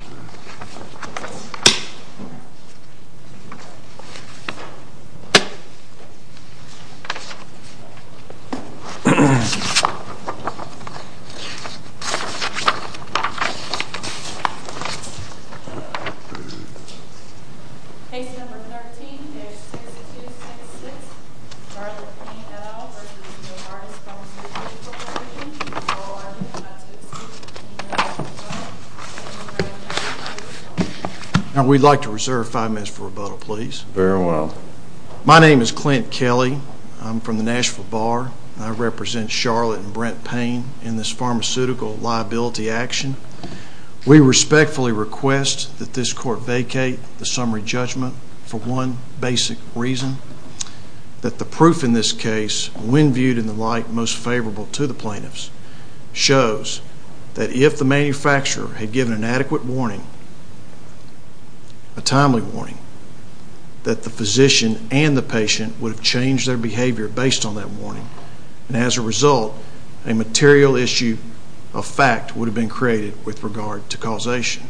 Page number 13, Excerpt 2-6-6, Charlotte Payne et al. v. Novartis Pharmaceuticals Corporation Now we'd like to reserve five minutes for rebuttal please. Very well. My name is Clint Kelly. I'm from the Nashville Bar. I represent Charlotte and Brent Payne in this pharmaceutical liability action. We respectfully request that this court vacate the summary judgment for one basic reason. That the proof in this case, when viewed in the light most favorable to the plaintiffs, shows that if the manufacturer had given an adequate warning, a timely warning, that the physician and the patient would have changed their behavior based on that warning. And as a result, a material issue of fact would have been created with regard to causation.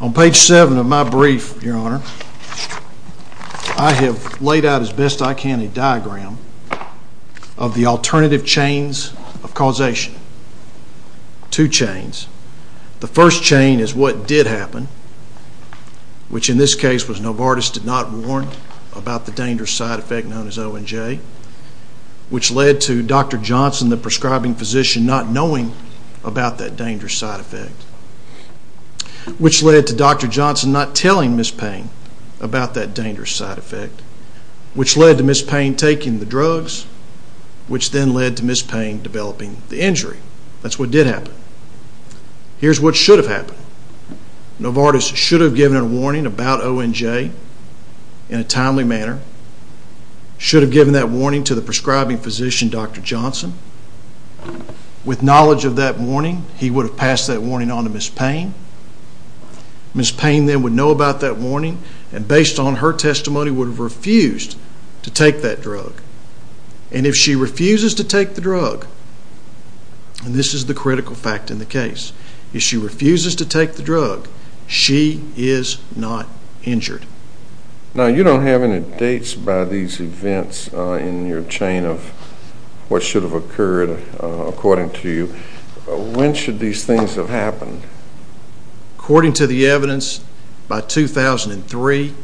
On page 7 of my brief, your honor, I have laid out as best I can a diagram of the alternative chains of causation. Two chains. The first chain is what did happen, which in this case was Novartis did not warn about the dangerous side effect known as ONJ, which led to Dr. Johnson, the prescribing physician, not knowing about that dangerous side effect. Which led to Dr. Johnson not telling Ms. Payne about that dangerous side effect, which led to Ms. Payne taking the drugs, which then led to Ms. Payne developing the injury. That's what did happen. Here's what should have happened. Novartis should have given a warning about ONJ in a timely manner. Should have given that warning to the prescribing physician, Dr. Johnson. With knowledge of that warning, he would have passed that warning on to Ms. Payne. Ms. Payne then would know about that warning and based on her testimony would have refused to take that drug. And if she refuses to take the drug, and this is the critical fact in the case, if she refuses to take the drug, she is not injured. Now you don't have any dates by these events in your chain of what should have occurred according to you. When should these things have happened? According to the evidence, by 2003,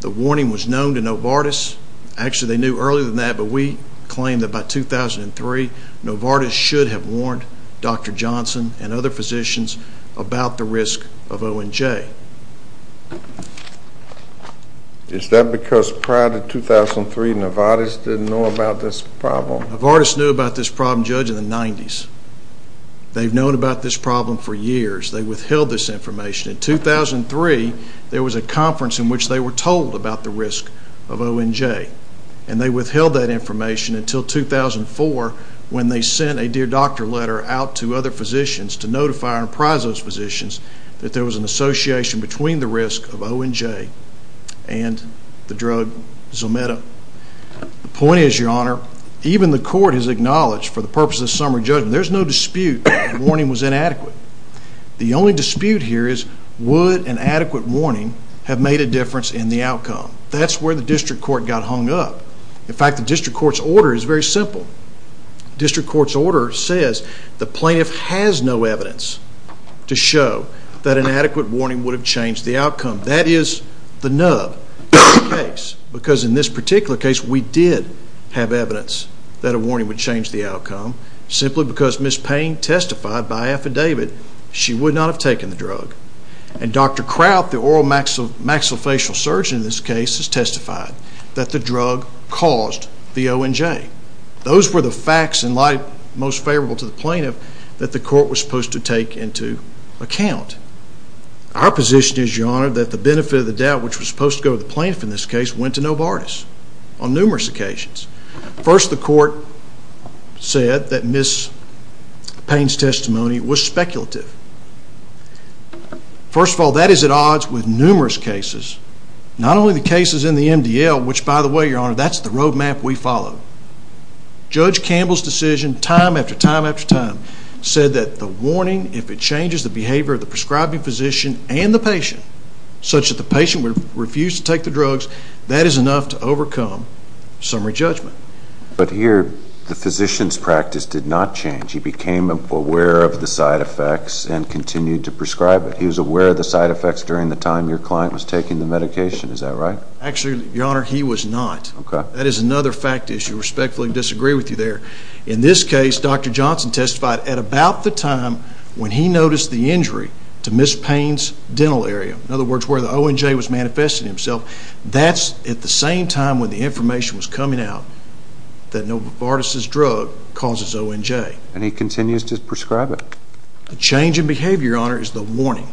the warning was known to Novartis. Actually, they knew earlier than that, but we claim that by 2003, Novartis should have warned Dr. Johnson and other physicians about the risk of ONJ. Is that because prior to 2003, Novartis didn't know about this problem? Novartis knew about this problem, Judge, in the 90s. They've known about this problem for years. They withheld this information. In 2003, there was a conference in which they were told about the risk of ONJ. And they withheld that information until 2004 when they sent a Dear Doctor letter out to other physicians to notify and apprise those physicians that there was an association between the risk of ONJ and the drug Zometa. The point is, Your Honor, even the court has acknowledged for the purposes of summary judgment, there's no dispute that the warning was inadequate. The only dispute here is would an adequate warning have made a difference in the outcome? That's where the district court got hung up. In fact, the district court's order is very simple. The district court's order says the plaintiff has no evidence to show that an adequate warning would have changed the outcome. That is the nub of the case because in this particular case, we did have evidence that a warning would change the outcome simply because Ms. Payne testified by affidavit she would not have taken the drug. And Dr. Kraut, the oral maxillofacial surgeon in this case, has testified that the drug caused the ONJ. Those were the facts in light most favorable to the plaintiff that the court was supposed to take into account. Our position is, Your Honor, that the benefit of the doubt which was supposed to go to the plaintiff in this case went to Novartis on numerous occasions. First, the court said that Ms. Payne's testimony was speculative. First of all, that is at odds with numerous cases, not only the cases in the MDL, which by the way, Your Honor, that's the road map we follow. Judge Campbell's decision, time after time after time, said that the warning, if it changes the behavior of the prescribing physician and the patient, such that the patient would refuse to take the drugs, that is enough to overcome summary judgment. But here, the physician's practice did not change. He became aware of the side effects and continued to prescribe it. He was aware of the side effects during the time your client was taking the medication. Is that right? Actually, Your Honor, he was not. That is another fact issue. I respectfully disagree with you there. In this case, Dr. Johnson testified at about the time when he noticed the injury to Ms. Payne's dental area. In other words, where the ONJ was manifesting itself. That's at the same time when the information was coming out that Novartis' drug causes ONJ. And he continues to prescribe it. The change in behavior, Your Honor, is the warning.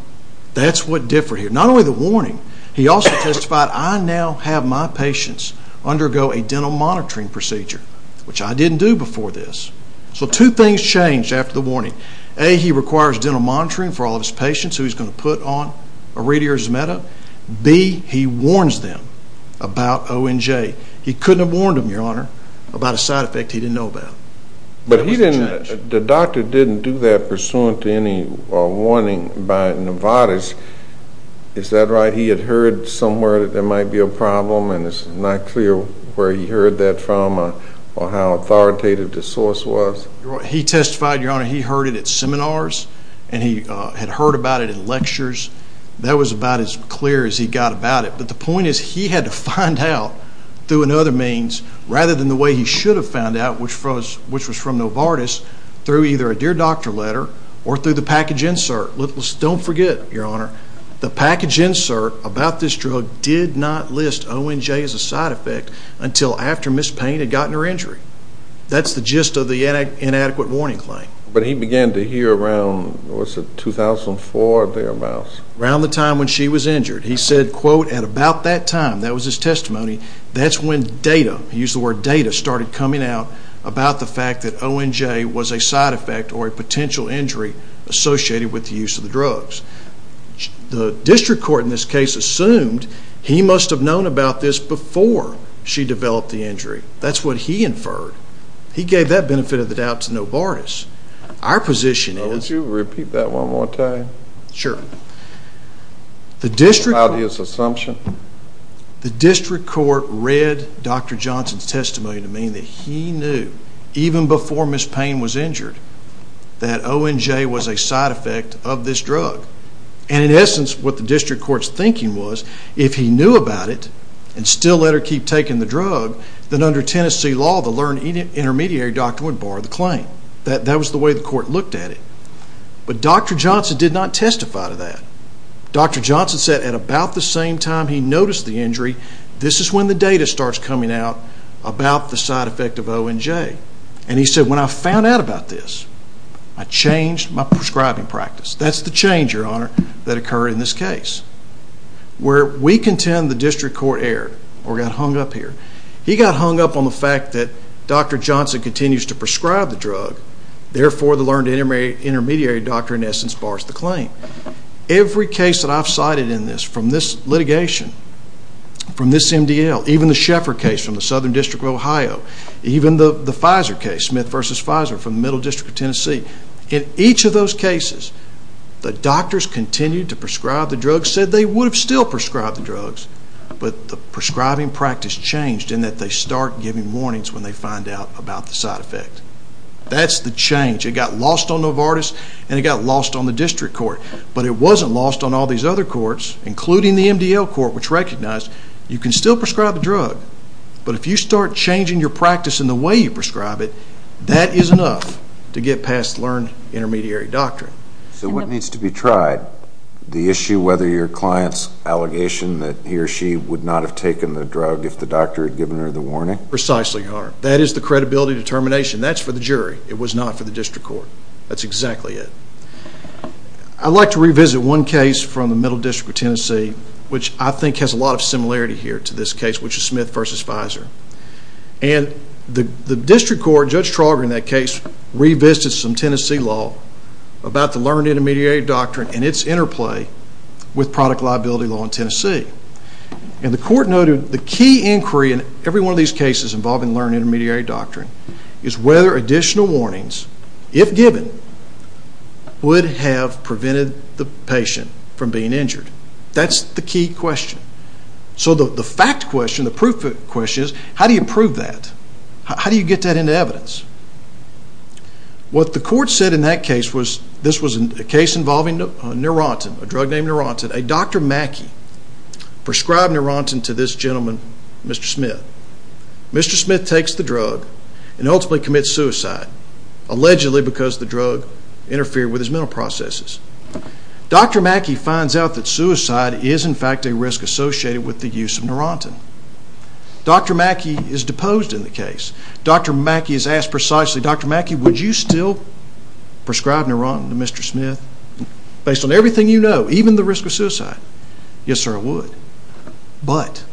That's what differed here. Not only the warning, he also testified, I now have my patients undergo a dental monitoring procedure, which I didn't do before this. So two things changed after the warning. A, he requires dental monitoring for all of his patients who he's going to put on iridiazumab. B, he warns them about ONJ. He couldn't have warned them, Your Honor, about a side effect he didn't know about. But the doctor didn't do that pursuant to any warning by Novartis. Is that right? He had heard somewhere that there might be a problem and it's not clear where he heard that from or how authoritative the source was? He testified, Your Honor, he heard it at seminars and he had heard about it in lectures. That was about as clear as he got about it. But the point is he had to find out through another means rather than the way he should have found out, which was from Novartis, through either a dear doctor letter or through the package insert. Don't forget, Your Honor, the package insert about this drug did not list ONJ as a side effect until after Ms. Payne had gotten her injury. That's the gist of the inadequate warning claim. But he began to hear around, what's it, 2004 or thereabouts? Around the time when she was injured. He said, quote, at about that time, that was his testimony, that's when data, he used the word data, started coming out about the fact that ONJ was a side effect or a potential injury associated with the use of the drugs. The district court in this case assumed he must have known about this before she developed the injury. That's what he inferred. He gave that benefit of the doubt to Novartis. Our position is... Would you repeat that one more time? Sure. The district court... About his assumption? The district court read Dr. Johnson's testimony to mean that he knew, even before Ms. Payne was injured, that ONJ was a side effect of this drug. And in essence, what the district court's thinking was, if he knew about it and still let her keep taking the drug, then under Tennessee law, the learned intermediary doctor would borrow the claim. That was the way the court looked at it. But Dr. Johnson did not testify to that. Dr. Johnson said at about the same time he noticed the injury, this is when the data starts coming out about the side effect of ONJ. And he said, when I found out about this, I changed my prescribing practice. That's the change, Your Honor, that occurred in this case. Where we contend the district court erred, or got hung up here. He got hung up on the fact that Dr. Johnson continues to prescribe the drug. Therefore, the learned intermediary doctor, in essence, borrows the claim. Every case that I've cited in this, from this litigation, from this MDL, even the Sheffer case from the Southern District of Ohio, even the Pfizer case, Smith v. Pfizer, from the Middle District of Tennessee. In each of those cases, the doctors continued to prescribe the drugs, said they would have still prescribed the drugs. But the prescribing practice changed in that they start giving warnings when they find out about the side effect. That's the change. It got lost on Novartis, and it got lost on the district court. But it wasn't lost on all these other courts, including the MDL court, which recognized you can still prescribe a drug. But if you start changing your practice in the way you prescribe it, that is enough to get past learned intermediary doctrine. So what needs to be tried? The issue whether your client's allegation that he or she would not have taken the drug if the doctor had given her the warning? Precisely, Your Honor. That is the credibility determination. That's for the jury. It was not for the district court. That's exactly it. I'd like to revisit one case from the Middle District of Tennessee, which I think has a lot of similarity here to this case, which is Smith v. Pfizer. And the district court, Judge Trauger in that case, revisited some Tennessee law about the learned intermediary doctrine and its interplay with product liability law in Tennessee. And the court noted the key inquiry in every one of these cases involving learned intermediary doctrine is whether additional warnings, if given, would have prevented the patient from being injured. That's the key question. So the fact question, the proof question, is how do you prove that? How do you get that into evidence? What the court said in that case was this was a case involving Neurontin, a drug named Neurontin. A Dr. Mackey prescribed Neurontin to this gentleman, Mr. Smith. Mr. Smith takes the drug and ultimately commits suicide, allegedly because the drug interfered with his mental processes. Dr. Mackey finds out that suicide is, in fact, a risk associated with the use of Neurontin. Dr. Mackey is deposed in the case. Dr. Mackey is asked precisely, Dr. Mackey, would you still prescribe Neurontin to Mr. Smith based on everything you know, even the risk of suicide? Yes, sir, I would. But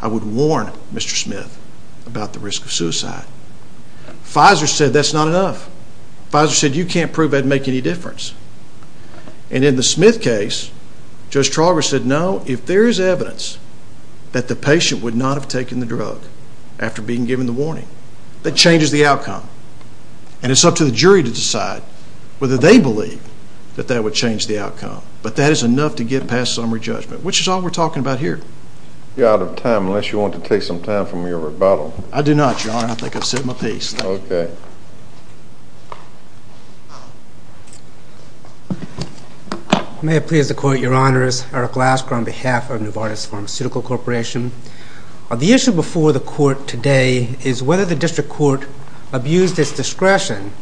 I would warn Mr. Smith about the risk of suicide. Pfizer said that's not enough. Pfizer said you can't prove that would make any difference. And in the Smith case, Judge Trauger said, no, if there is evidence that the patient would not have taken the drug after being given the warning, that changes the outcome. And it's up to the jury to decide whether they believe that that would change the outcome. But that is enough to get past summary judgment, which is all we're talking about here. You're out of time, unless you want to take some time from your rebuttal. I do not, Your Honor. I think I've said my piece. Okay. May it please the Court, Your Honors. Eric Lasker on behalf of Novartis Pharmaceutical Corporation. The issue before the Court today is whether the District Court abused its discretion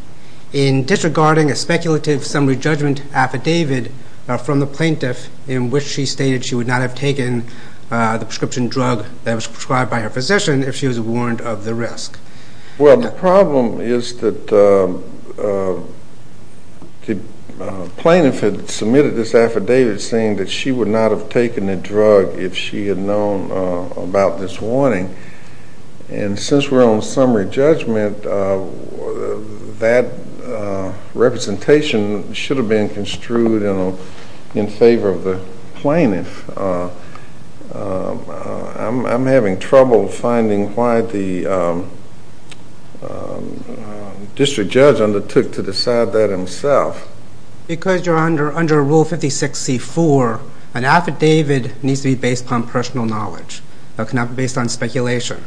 in disregarding a speculative summary judgment affidavit from the plaintiff in which she stated she would not have taken the prescription drug that was prescribed by her physician if she was warned of the risk. Well, the problem is that the plaintiff had submitted this affidavit saying that she would not have taken the drug if she had known about this warning. And since we're on summary judgment, that representation should have been construed in favor of the plaintiff. I'm having trouble finding why the District Judge undertook to decide that himself. Because you're under Rule 56-C-4, an affidavit needs to be based upon personal knowledge. It cannot be based on speculation.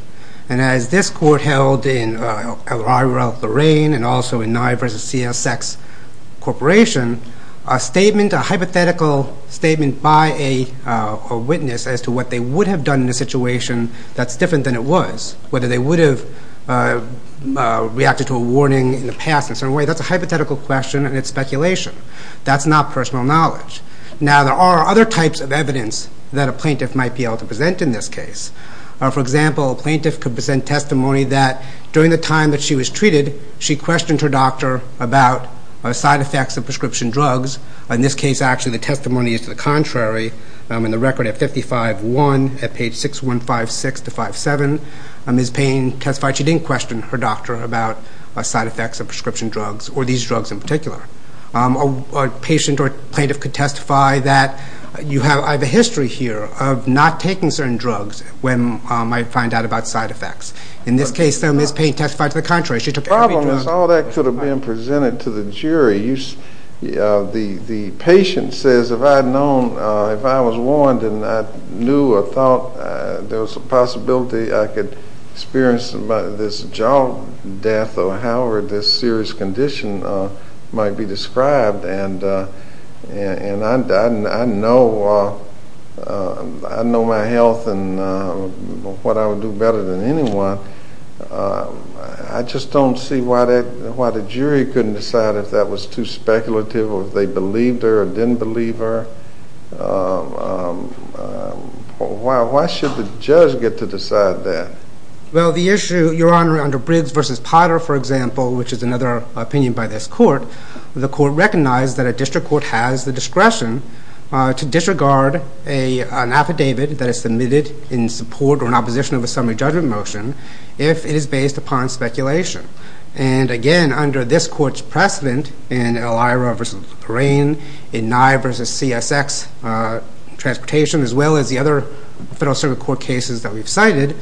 And as this Court held in Elrira-Lorraine and also in Nye v. CSX Corporation, a hypothetical statement by a witness as to what they would have done in a situation that's different than it was, whether they would have reacted to a warning in the past in a certain way, that's a hypothetical question and it's speculation. That's not personal knowledge. Now, there are other types of evidence that a plaintiff might be able to present in this case. For example, a plaintiff could present testimony that during the time that she was treated, she questioned her doctor about side effects of prescription drugs. In this case, actually, the testimony is to the contrary. In the record at 55-1, at page 6156-57, Ms. Payne testified she didn't question her doctor about side effects of prescription drugs or these drugs in particular. A patient or plaintiff could testify that you have a history here of not taking certain drugs when I find out about side effects. In this case, though, Ms. Payne testified to the contrary. She took every drug. The problem is all that could have been presented to the jury. The patient says, if I had known, if I was warned and I knew or thought there was a possibility I could experience this job death or however this serious condition might be described, and I know my health and what I would do better than anyone, I just don't see why the jury couldn't decide if that was too speculative or if they believed her or didn't believe her. Why should the judge get to decide that? Well, the issue, Your Honor, under Briggs v. Potter, for example, which is another opinion by this court, the court recognized that a district court has the discretion to disregard an affidavit that is submitted in support or in opposition of a summary judgment motion if it is based upon speculation. And again, under this court's precedent, in Elira v. Lorraine, in Nye v. CSX Transportation, as well as the other Federal Circuit Court cases that we've cited,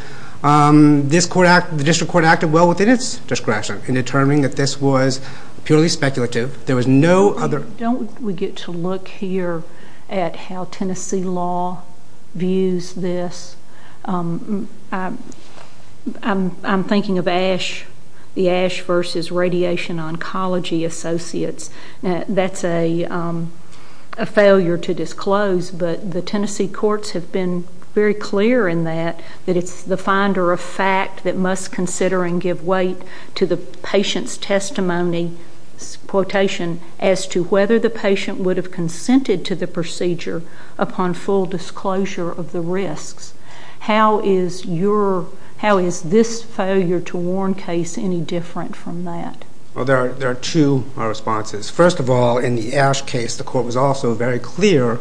the district court acted well within its discretion in determining that this was purely speculative. Don't we get to look here at how Tennessee law views this? I'm thinking of the Ash v. Radiation Oncology Associates. That's a failure to disclose, but the Tennessee courts have been very clear in that, that it's the finder of fact that must consider and give weight to the patient's testimony quotation as to whether the patient would have consented to the procedure upon full disclosure of the risks. How is this failure to warn case any different from that? Well, there are two responses. First of all, in the Ash case, the court was also very clear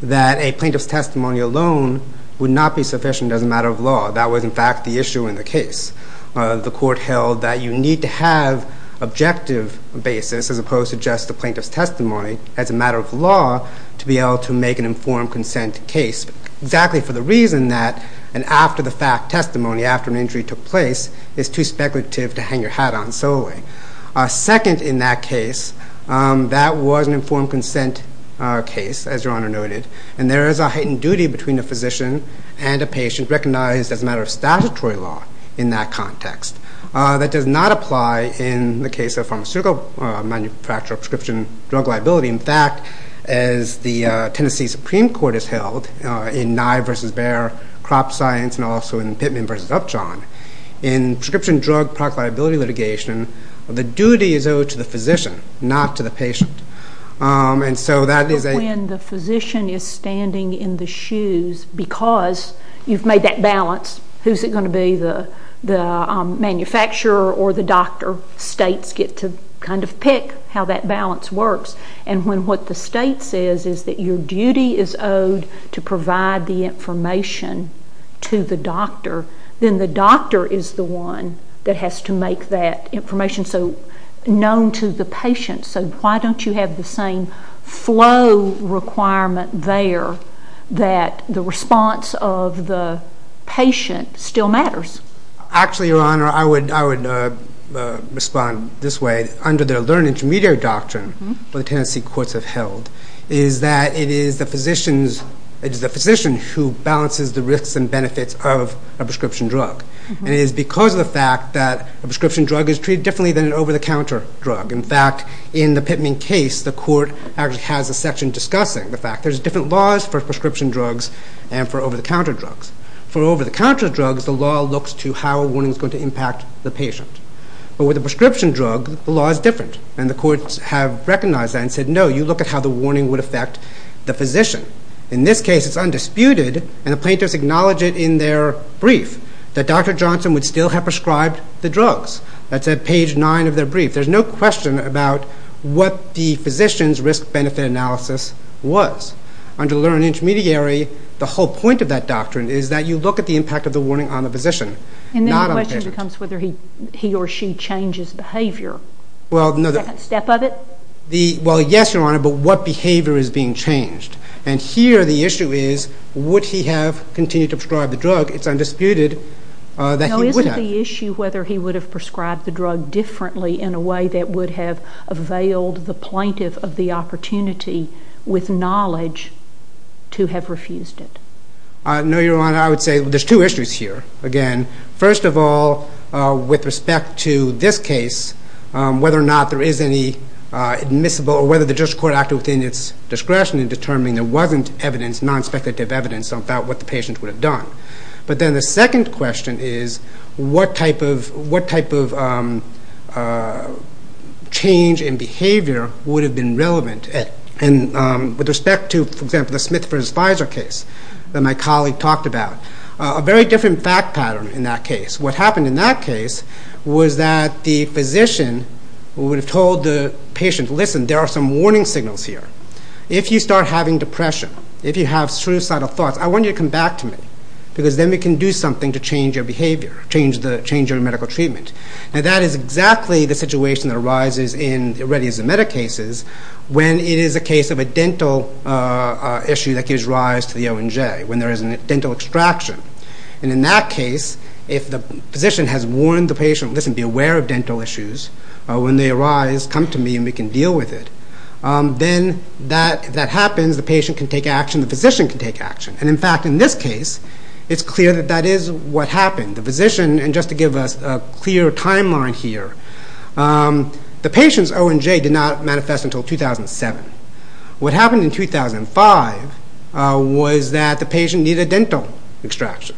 that a plaintiff's testimony alone would not be sufficient as a matter of law. That was, in fact, the issue in the case. The court held that you need to have objective basis as opposed to just the plaintiff's testimony as a matter of law to be able to make an informed consent case, exactly for the reason that an after-the-fact testimony after an injury took place is too speculative to hang your hat on solely. Second in that case, that was an informed consent case, as Your Honor noted, and there is a heightened duty between a physician and a patient recognized as a matter of statutory law in that context. That does not apply in the case of pharmaceutical manufacturer prescription drug liability. In fact, as the Tennessee Supreme Court has held in Nye v. Baer crop science and also in Pittman v. Upjohn, in prescription drug product liability litigation, the duty is owed to the physician, not to the patient. When the physician is standing in the shoes because you've made that balance, who's it going to be, the manufacturer or the doctor? States get to kind of pick how that balance works. And when what the state says is that your duty is owed to provide the information to the doctor, then the doctor is the one that has to make that information known to the patient. So why don't you have the same flow requirement there that the response of the patient still matters? Actually, Your Honor, I would respond this way. Under their learned intermediary doctrine, what the Tennessee courts have held is that it is the physician who balances the risks and benefits of a prescription drug. And it is because of the fact that a prescription drug is treated differently than an over-the-counter drug. In fact, in the Pittman case, the court actually has a section discussing the fact there's different laws for prescription drugs and for over-the-counter drugs. For over-the-counter drugs, the law looks to how a warning is going to impact the patient. But with a prescription drug, the law is different. And the courts have recognized that and said, no, you look at how the warning would affect the physician. In this case, it's undisputed, and the plaintiffs acknowledge it in their brief, that Dr. Johnson would still have prescribed the drugs. That's at page 9 of their brief. There's no question about what the physician's risk-benefit analysis was. Under learned intermediary, the whole point of that doctrine is that you look at the impact of the warning on the physician. And then the question becomes whether he or she changes behavior. Well, no. The second step of it? Well, yes, Your Honor, but what behavior is being changed? And here the issue is, would he have continued to prescribe the drug? It's undisputed that he would have. Now, isn't the issue whether he would have prescribed the drug differently in a way that would have availed the plaintiff of the opportunity with knowledge to have refused it? No, Your Honor. I would say there's two issues here. Again, first of all, with respect to this case, whether or not there is any admissible or whether the judge's court acted within its discretion in determining there wasn't evidence, non-speculative evidence about what the patient would have done. But then the second question is, what type of change in behavior would have been relevant? With respect to, for example, the Smith v. Pfizer case that my colleague talked about, a very different fact pattern in that case. What happened in that case was that the physician would have told the patient, listen, there are some warning signals here. If you start having depression, if you have suicidal thoughts, I want you to come back to me because then we can do something to change your behavior, change your medical treatment. Now, that is exactly the situation that arises in ready-as-a-meta cases when it is a case of a dental issue that gives rise to the O and J, when there is a dental extraction. In that case, if the physician has warned the patient, listen, be aware of dental issues. When they arise, come to me and we can deal with it. Then if that happens, the patient can take action, the physician can take action. In fact, in this case, it's clear that that is what happened. The physician, and just to give us a clear timeline here, the patient's O and J did not manifest until 2007. What happened in 2005 was that the patient needed dental extraction.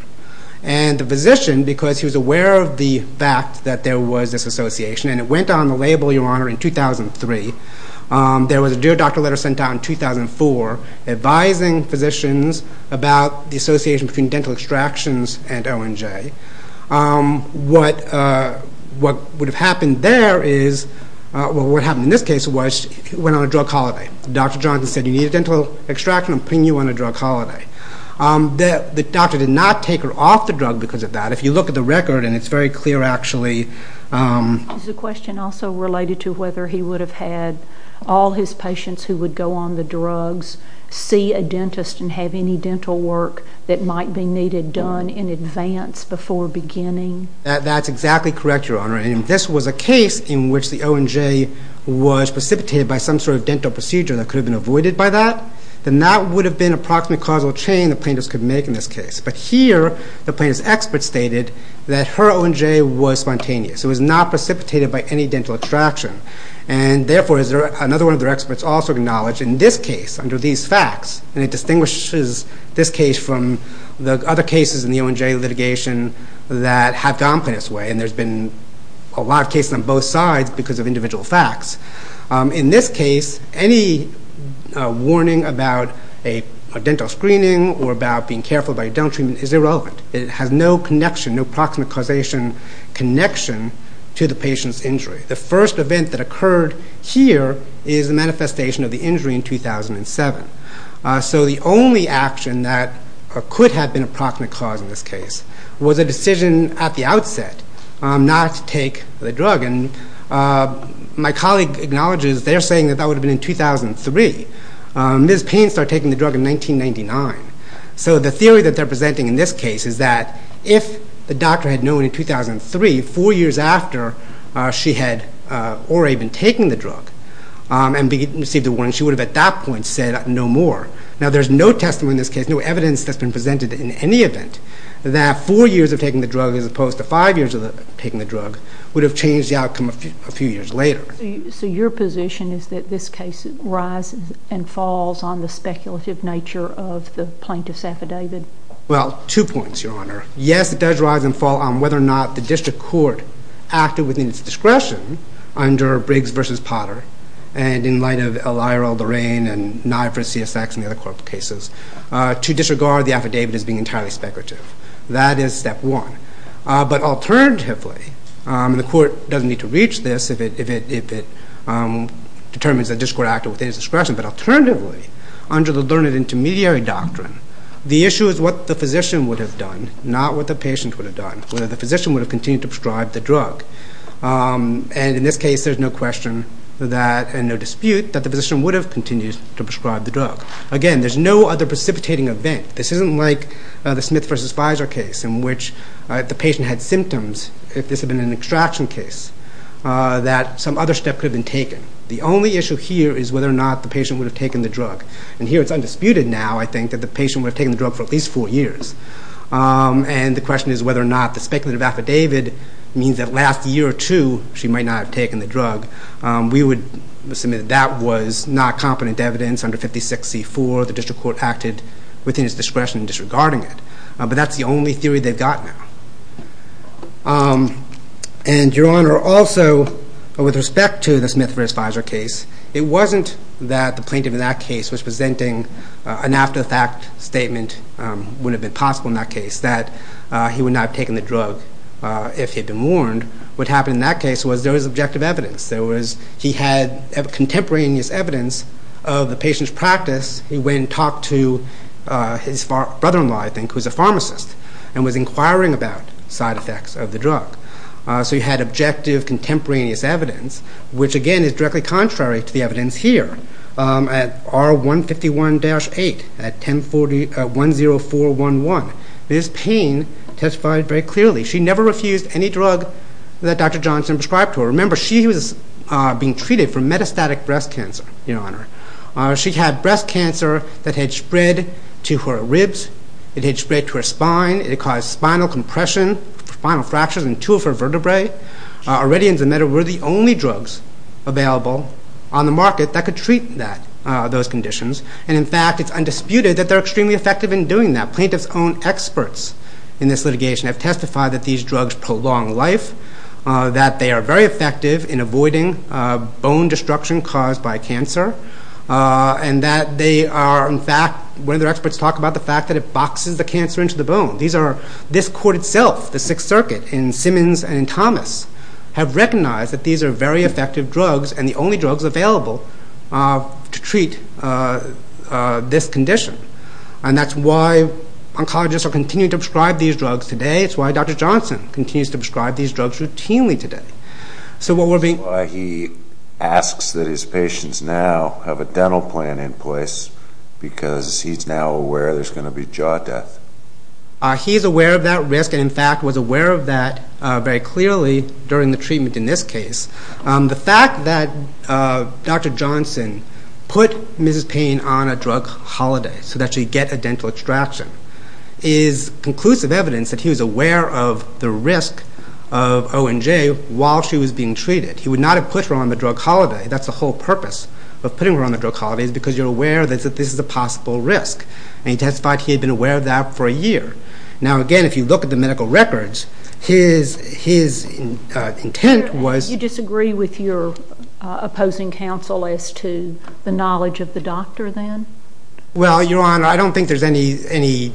The physician, because he was aware of the fact that there was this association, and it went on the label, Your Honor, in 2003, there was a dear doctor letter sent out in 2004 advising physicians about the association between dental extractions and O and J. What would have happened there is, well, what happened in this case was he went on a drug holiday. Dr. Johnson said, You need a dental extraction? I'm putting you on a drug holiday. The doctor did not take her off the drug because of that. If you look at the record, and it's very clear, actually. There's a question also related to whether he would have had all his patients who would go on the drugs see a dentist and have any dental work that might be needed done in advance before beginning. That's exactly correct, Your Honor. If this was a case in which the O and J was precipitated by some sort of dental procedure that could have been avoided by that, then that would have been an approximate causal chain the plaintiff could make in this case. But here, the plaintiff's expert stated that her O and J was spontaneous. It was not precipitated by any dental extraction. Therefore, another one of their experts also acknowledged, in this case, under these facts, and it distinguishes this case from the other cases in the O and J litigation that have gone this way, and there's been a lot of cases on both sides because of individual facts. In this case, any warning about a dental screening or about being careful about your dental treatment is irrelevant. It has no connection, no proximate causation connection to the patient's injury. The first event that occurred here is the manifestation of the injury in 2007. So the only action that could have been a proximate cause in this case was a decision at the outset not to take the drug. My colleague acknowledges they're saying that that would have been in 2003. Ms. Payne started taking the drug in 1999. So the theory that they're presenting in this case is that if the doctor had known in 2003, 4 years after she had already been taking the drug and received a warning, she would have at that point said no more. Now there's no testimony in this case, no evidence that's been presented in any event, that 4 years of taking the drug as opposed to 5 years of taking the drug would have changed the outcome a few years later. So your position is that this case rises and falls on the speculative nature of the plaintiff's affidavit? Well, two points, Your Honor. Yes, it does rise and fall on whether or not the district court acted within its discretion under Briggs v. Potter, and in light of Eliral, Lorraine, and Nye v. CSX and the other court cases, to disregard the affidavit as being entirely speculative. That is step one. But alternatively, and the court doesn't need to reach this if it determines that the district court acted within its discretion, but alternatively, under the learned intermediary doctrine, the issue is what the physician would have done, not what the patient would have done, whether the physician would have continued to prescribe the drug. And in this case, there's no question that, and no dispute, that the physician would have continued to prescribe the drug. Again, there's no other precipitating event. This isn't like the Smith v. Fizer case in which the patient had symptoms if this had been an extraction case, that some other step could have been taken. The only issue here is whether or not the patient would have taken the drug. And here it's undisputed now, I think, that the patient would have taken the drug for at least four years. And the question is whether or not the speculative affidavit means that last year or two she might not have taken the drug. We would assume that that was not competent evidence. Under 56C4, the district court acted within its discretion in disregarding it. But that's the only theory they've got now. And, Your Honor, also, with respect to the Smith v. Fizer case, it wasn't that the plaintiff in that case was presenting an after-the-fact statement wouldn't have been possible in that case, that he would not have taken the drug if he'd been warned. What happened in that case was there was objective evidence. He had contemporaneous evidence of the patient's practice. He went and talked to his brother-in-law, I think, who's a pharmacist, and was inquiring about side effects of the drug. So he had objective contemporaneous evidence, which, again, is directly contrary to the evidence here at R151-8 at 10411. This pain testified very clearly. She never refused any drug that Dr. Johnson prescribed to her. Remember, she was being treated for metastatic breast cancer, Your Honor. She had breast cancer that had spread to her ribs. It had spread to her spine. It had caused spinal compression, spinal fractures in two of her vertebrae. Aridians and meta were the only drugs available on the market that could treat those conditions. And, in fact, it's undisputed that they're extremely effective in doing that. Plaintiffs' own experts in this litigation have testified that these drugs prolong life, that they are very effective in avoiding bone destruction caused by cancer, and that they are, in fact, when their experts talk about the fact that it boxes the cancer into the bone. This court itself, the Sixth Circuit, in Simmons and in Thomas, have recognized that these are very effective drugs and the only drugs available to treat this condition. And that's why oncologists are continuing to prescribe these drugs today. It's why Dr. Johnson continues to prescribe these drugs routinely today. So what we're being... He asks that his patients now have a dental plan in place because he's now aware there's going to be jaw death. He's aware of that risk and, in fact, was aware of that very clearly during the treatment in this case. The fact that Dr. Johnson put Mrs. Payne on a drug holiday so that she'd get a dental extraction is conclusive evidence that he was aware of the risk of ONJ while she was being treated. He would not have put her on the drug holiday. That's the whole purpose of putting her on the drug holiday, is because you're aware that this is a possible risk. And he testified he had been aware of that for a year. Now, again, if you look at the medical records, his intent was... You disagree with your opposing counsel as to the knowledge of the doctor then? Well, Your Honor, I don't think there's any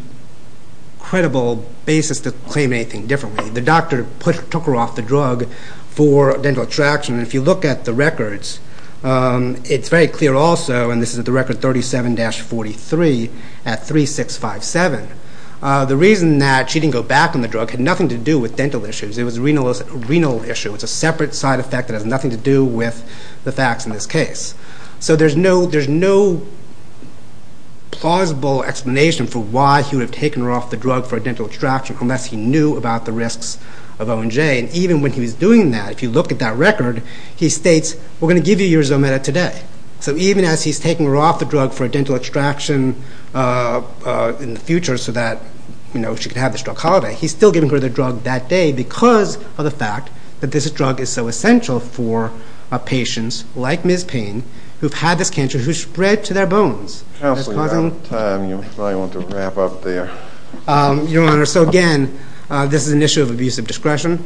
credible basis to claim anything differently. The doctor took her off the drug for dental extraction. If you look at the records, it's very clear also, and this is at the record 37-43 at 3657, the reason that she didn't go back on the drug had nothing to do with dental issues. It was a renal issue. It's a separate side effect that has nothing to do with the facts in this case. So there's no plausible explanation for why he would have taken her off the drug for a dental extraction unless he knew about the risks of ONJ. And even when he was doing that, if you look at that record, he states, we're going to give you your Zometa today. So even as he's taking her off the drug for a dental extraction in the future so that she could have this drug holiday, he's still giving her the drug that day because of the fact that this drug is so essential for patients like Ms. Payne who've had this cancer, who spread to their bones. Counselor, you're out of time. You probably want to wrap up there. Your Honor, so again, this is an issue of abusive discretion.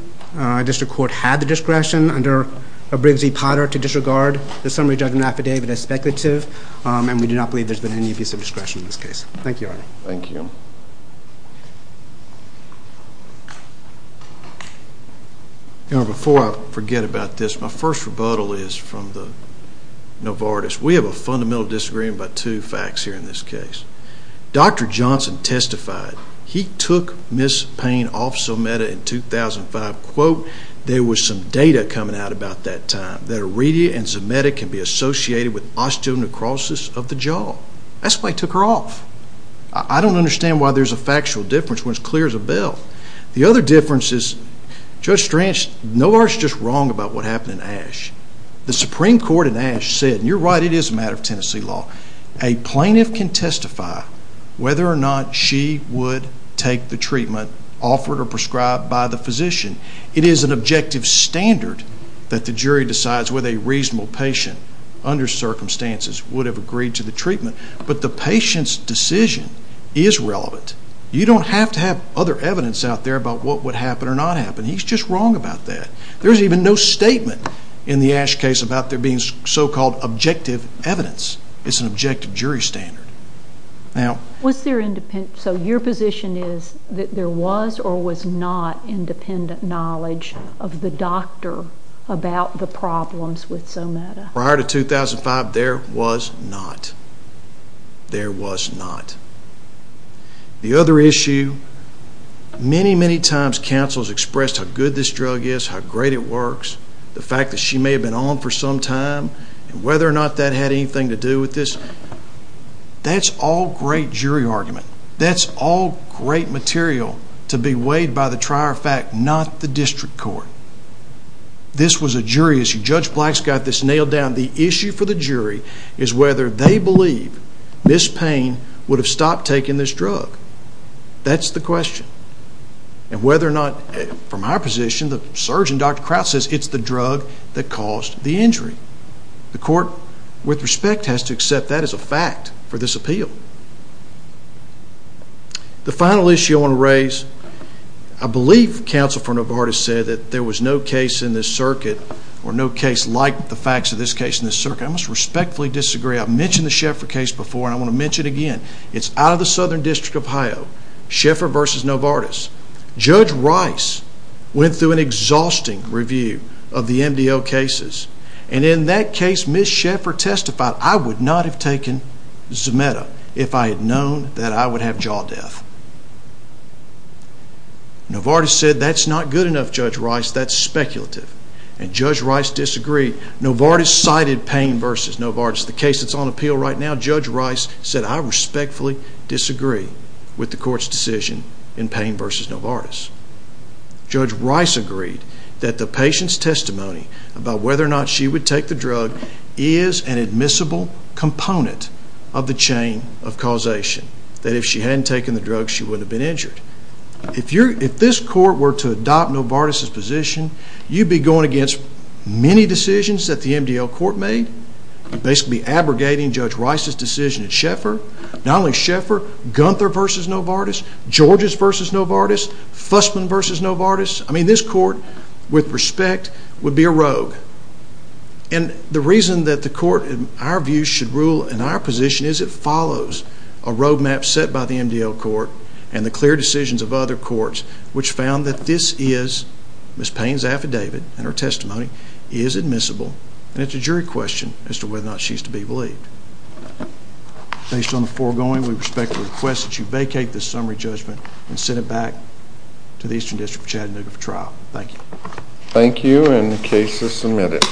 District Court had the discretion under Briggs v. Potter to disregard the summary judgment affidavit as speculative, and we do not believe there's been any abusive discretion in this case. Thank you, Your Honor. Thank you. Your Honor, before I forget about this, my first rebuttal is from the Novartis. We have a fundamental disagreement about two facts here in this case. Dr. Johnson testified. He took Ms. Payne off Zometa in 2005. Quote, there was some data coming out about that time that Iridia and Zometa can be associated with osteonecrosis of the jaw. That's why he took her off. I don't understand why there's a factual difference when it's clear as a bell. The other difference is, Judge Stranch, Novartis is just wrong about what happened in Ashe. The Supreme Court in Ashe said, and you're right, it is a matter of Tennessee law, a plaintiff can testify whether or not she would take the treatment offered or prescribed by the physician. It is an objective standard that the jury decides whether a reasonable patient, under circumstances, would have agreed to the treatment. But the patient's decision is relevant. You don't have to have other evidence out there about what would happen or not happen. He's just wrong about that. There's even no statement in the Ashe case about there being so-called objective evidence. It's an objective jury standard. So your position is that there was or was not independent knowledge of the doctor about the problems with Zometa? Prior to 2005, there was not. There was not. The other issue, many, many times counsels expressed how good this drug is, how great it works, the fact that she may have been on for some time and whether or not that had anything to do with this. That's all great jury argument. That's all great material to be weighed by the trier of fact, not the district court. This was a jury issue. Judge Black's got this nailed down. The issue for the jury is whether they believe Ms. Payne would have stopped taking this drug. That's the question. And whether or not, from our position, the surgeon, Dr. Kraut, says it's the drug that caused the injury. The court, with respect, has to accept that as a fact for this appeal. The final issue I want to raise, I believe counsel for Novartis said that there was no case in this circuit or no case like the facts of this case in this circuit. I must respectfully disagree. I've mentioned the Schaeffer case before and I want to mention it again. It's out of the Southern District of Ohio. Schaeffer versus Novartis. Judge Rice went through an exhausting review of the MDL cases. And in that case, Ms. Schaeffer testified, I would not have taken Zometa if I had known that I would have jaw death. Novartis said that's not good enough, Judge Rice. That's speculative. And Judge Rice disagreed. Novartis cited Payne versus Novartis. The case that's on appeal right now, Judge Rice said, I respectfully disagree with the court's decision in Payne versus Novartis. Judge Rice agreed that the patient's testimony about whether or not she would take the drug is an admissible component of the chain of causation. That if she hadn't taken the drug, she wouldn't have been injured. If this court were to adopt Novartis' position, you'd be going against many decisions that the MDL court made. You'd basically be abrogating Judge Rice's decision at Schaeffer. Not only Schaeffer, Gunther versus Novartis, Georges versus Novartis, Fussman versus Novartis. I mean, this court, with respect, would be a rogue. And the reason that the court, in our view, should rule in our position is it follows a road map set by the MDL court and the clear decisions of other courts which found that this is Ms. Payne's affidavit and her testimony is admissible. And it's a jury question as to whether or not she's to be believed. Based on the foregoing, we respectfully request that you vacate this summary judgment and send it back to the Eastern District of Chattanooga for trial. Thank you. Thank you, and the case is submitted.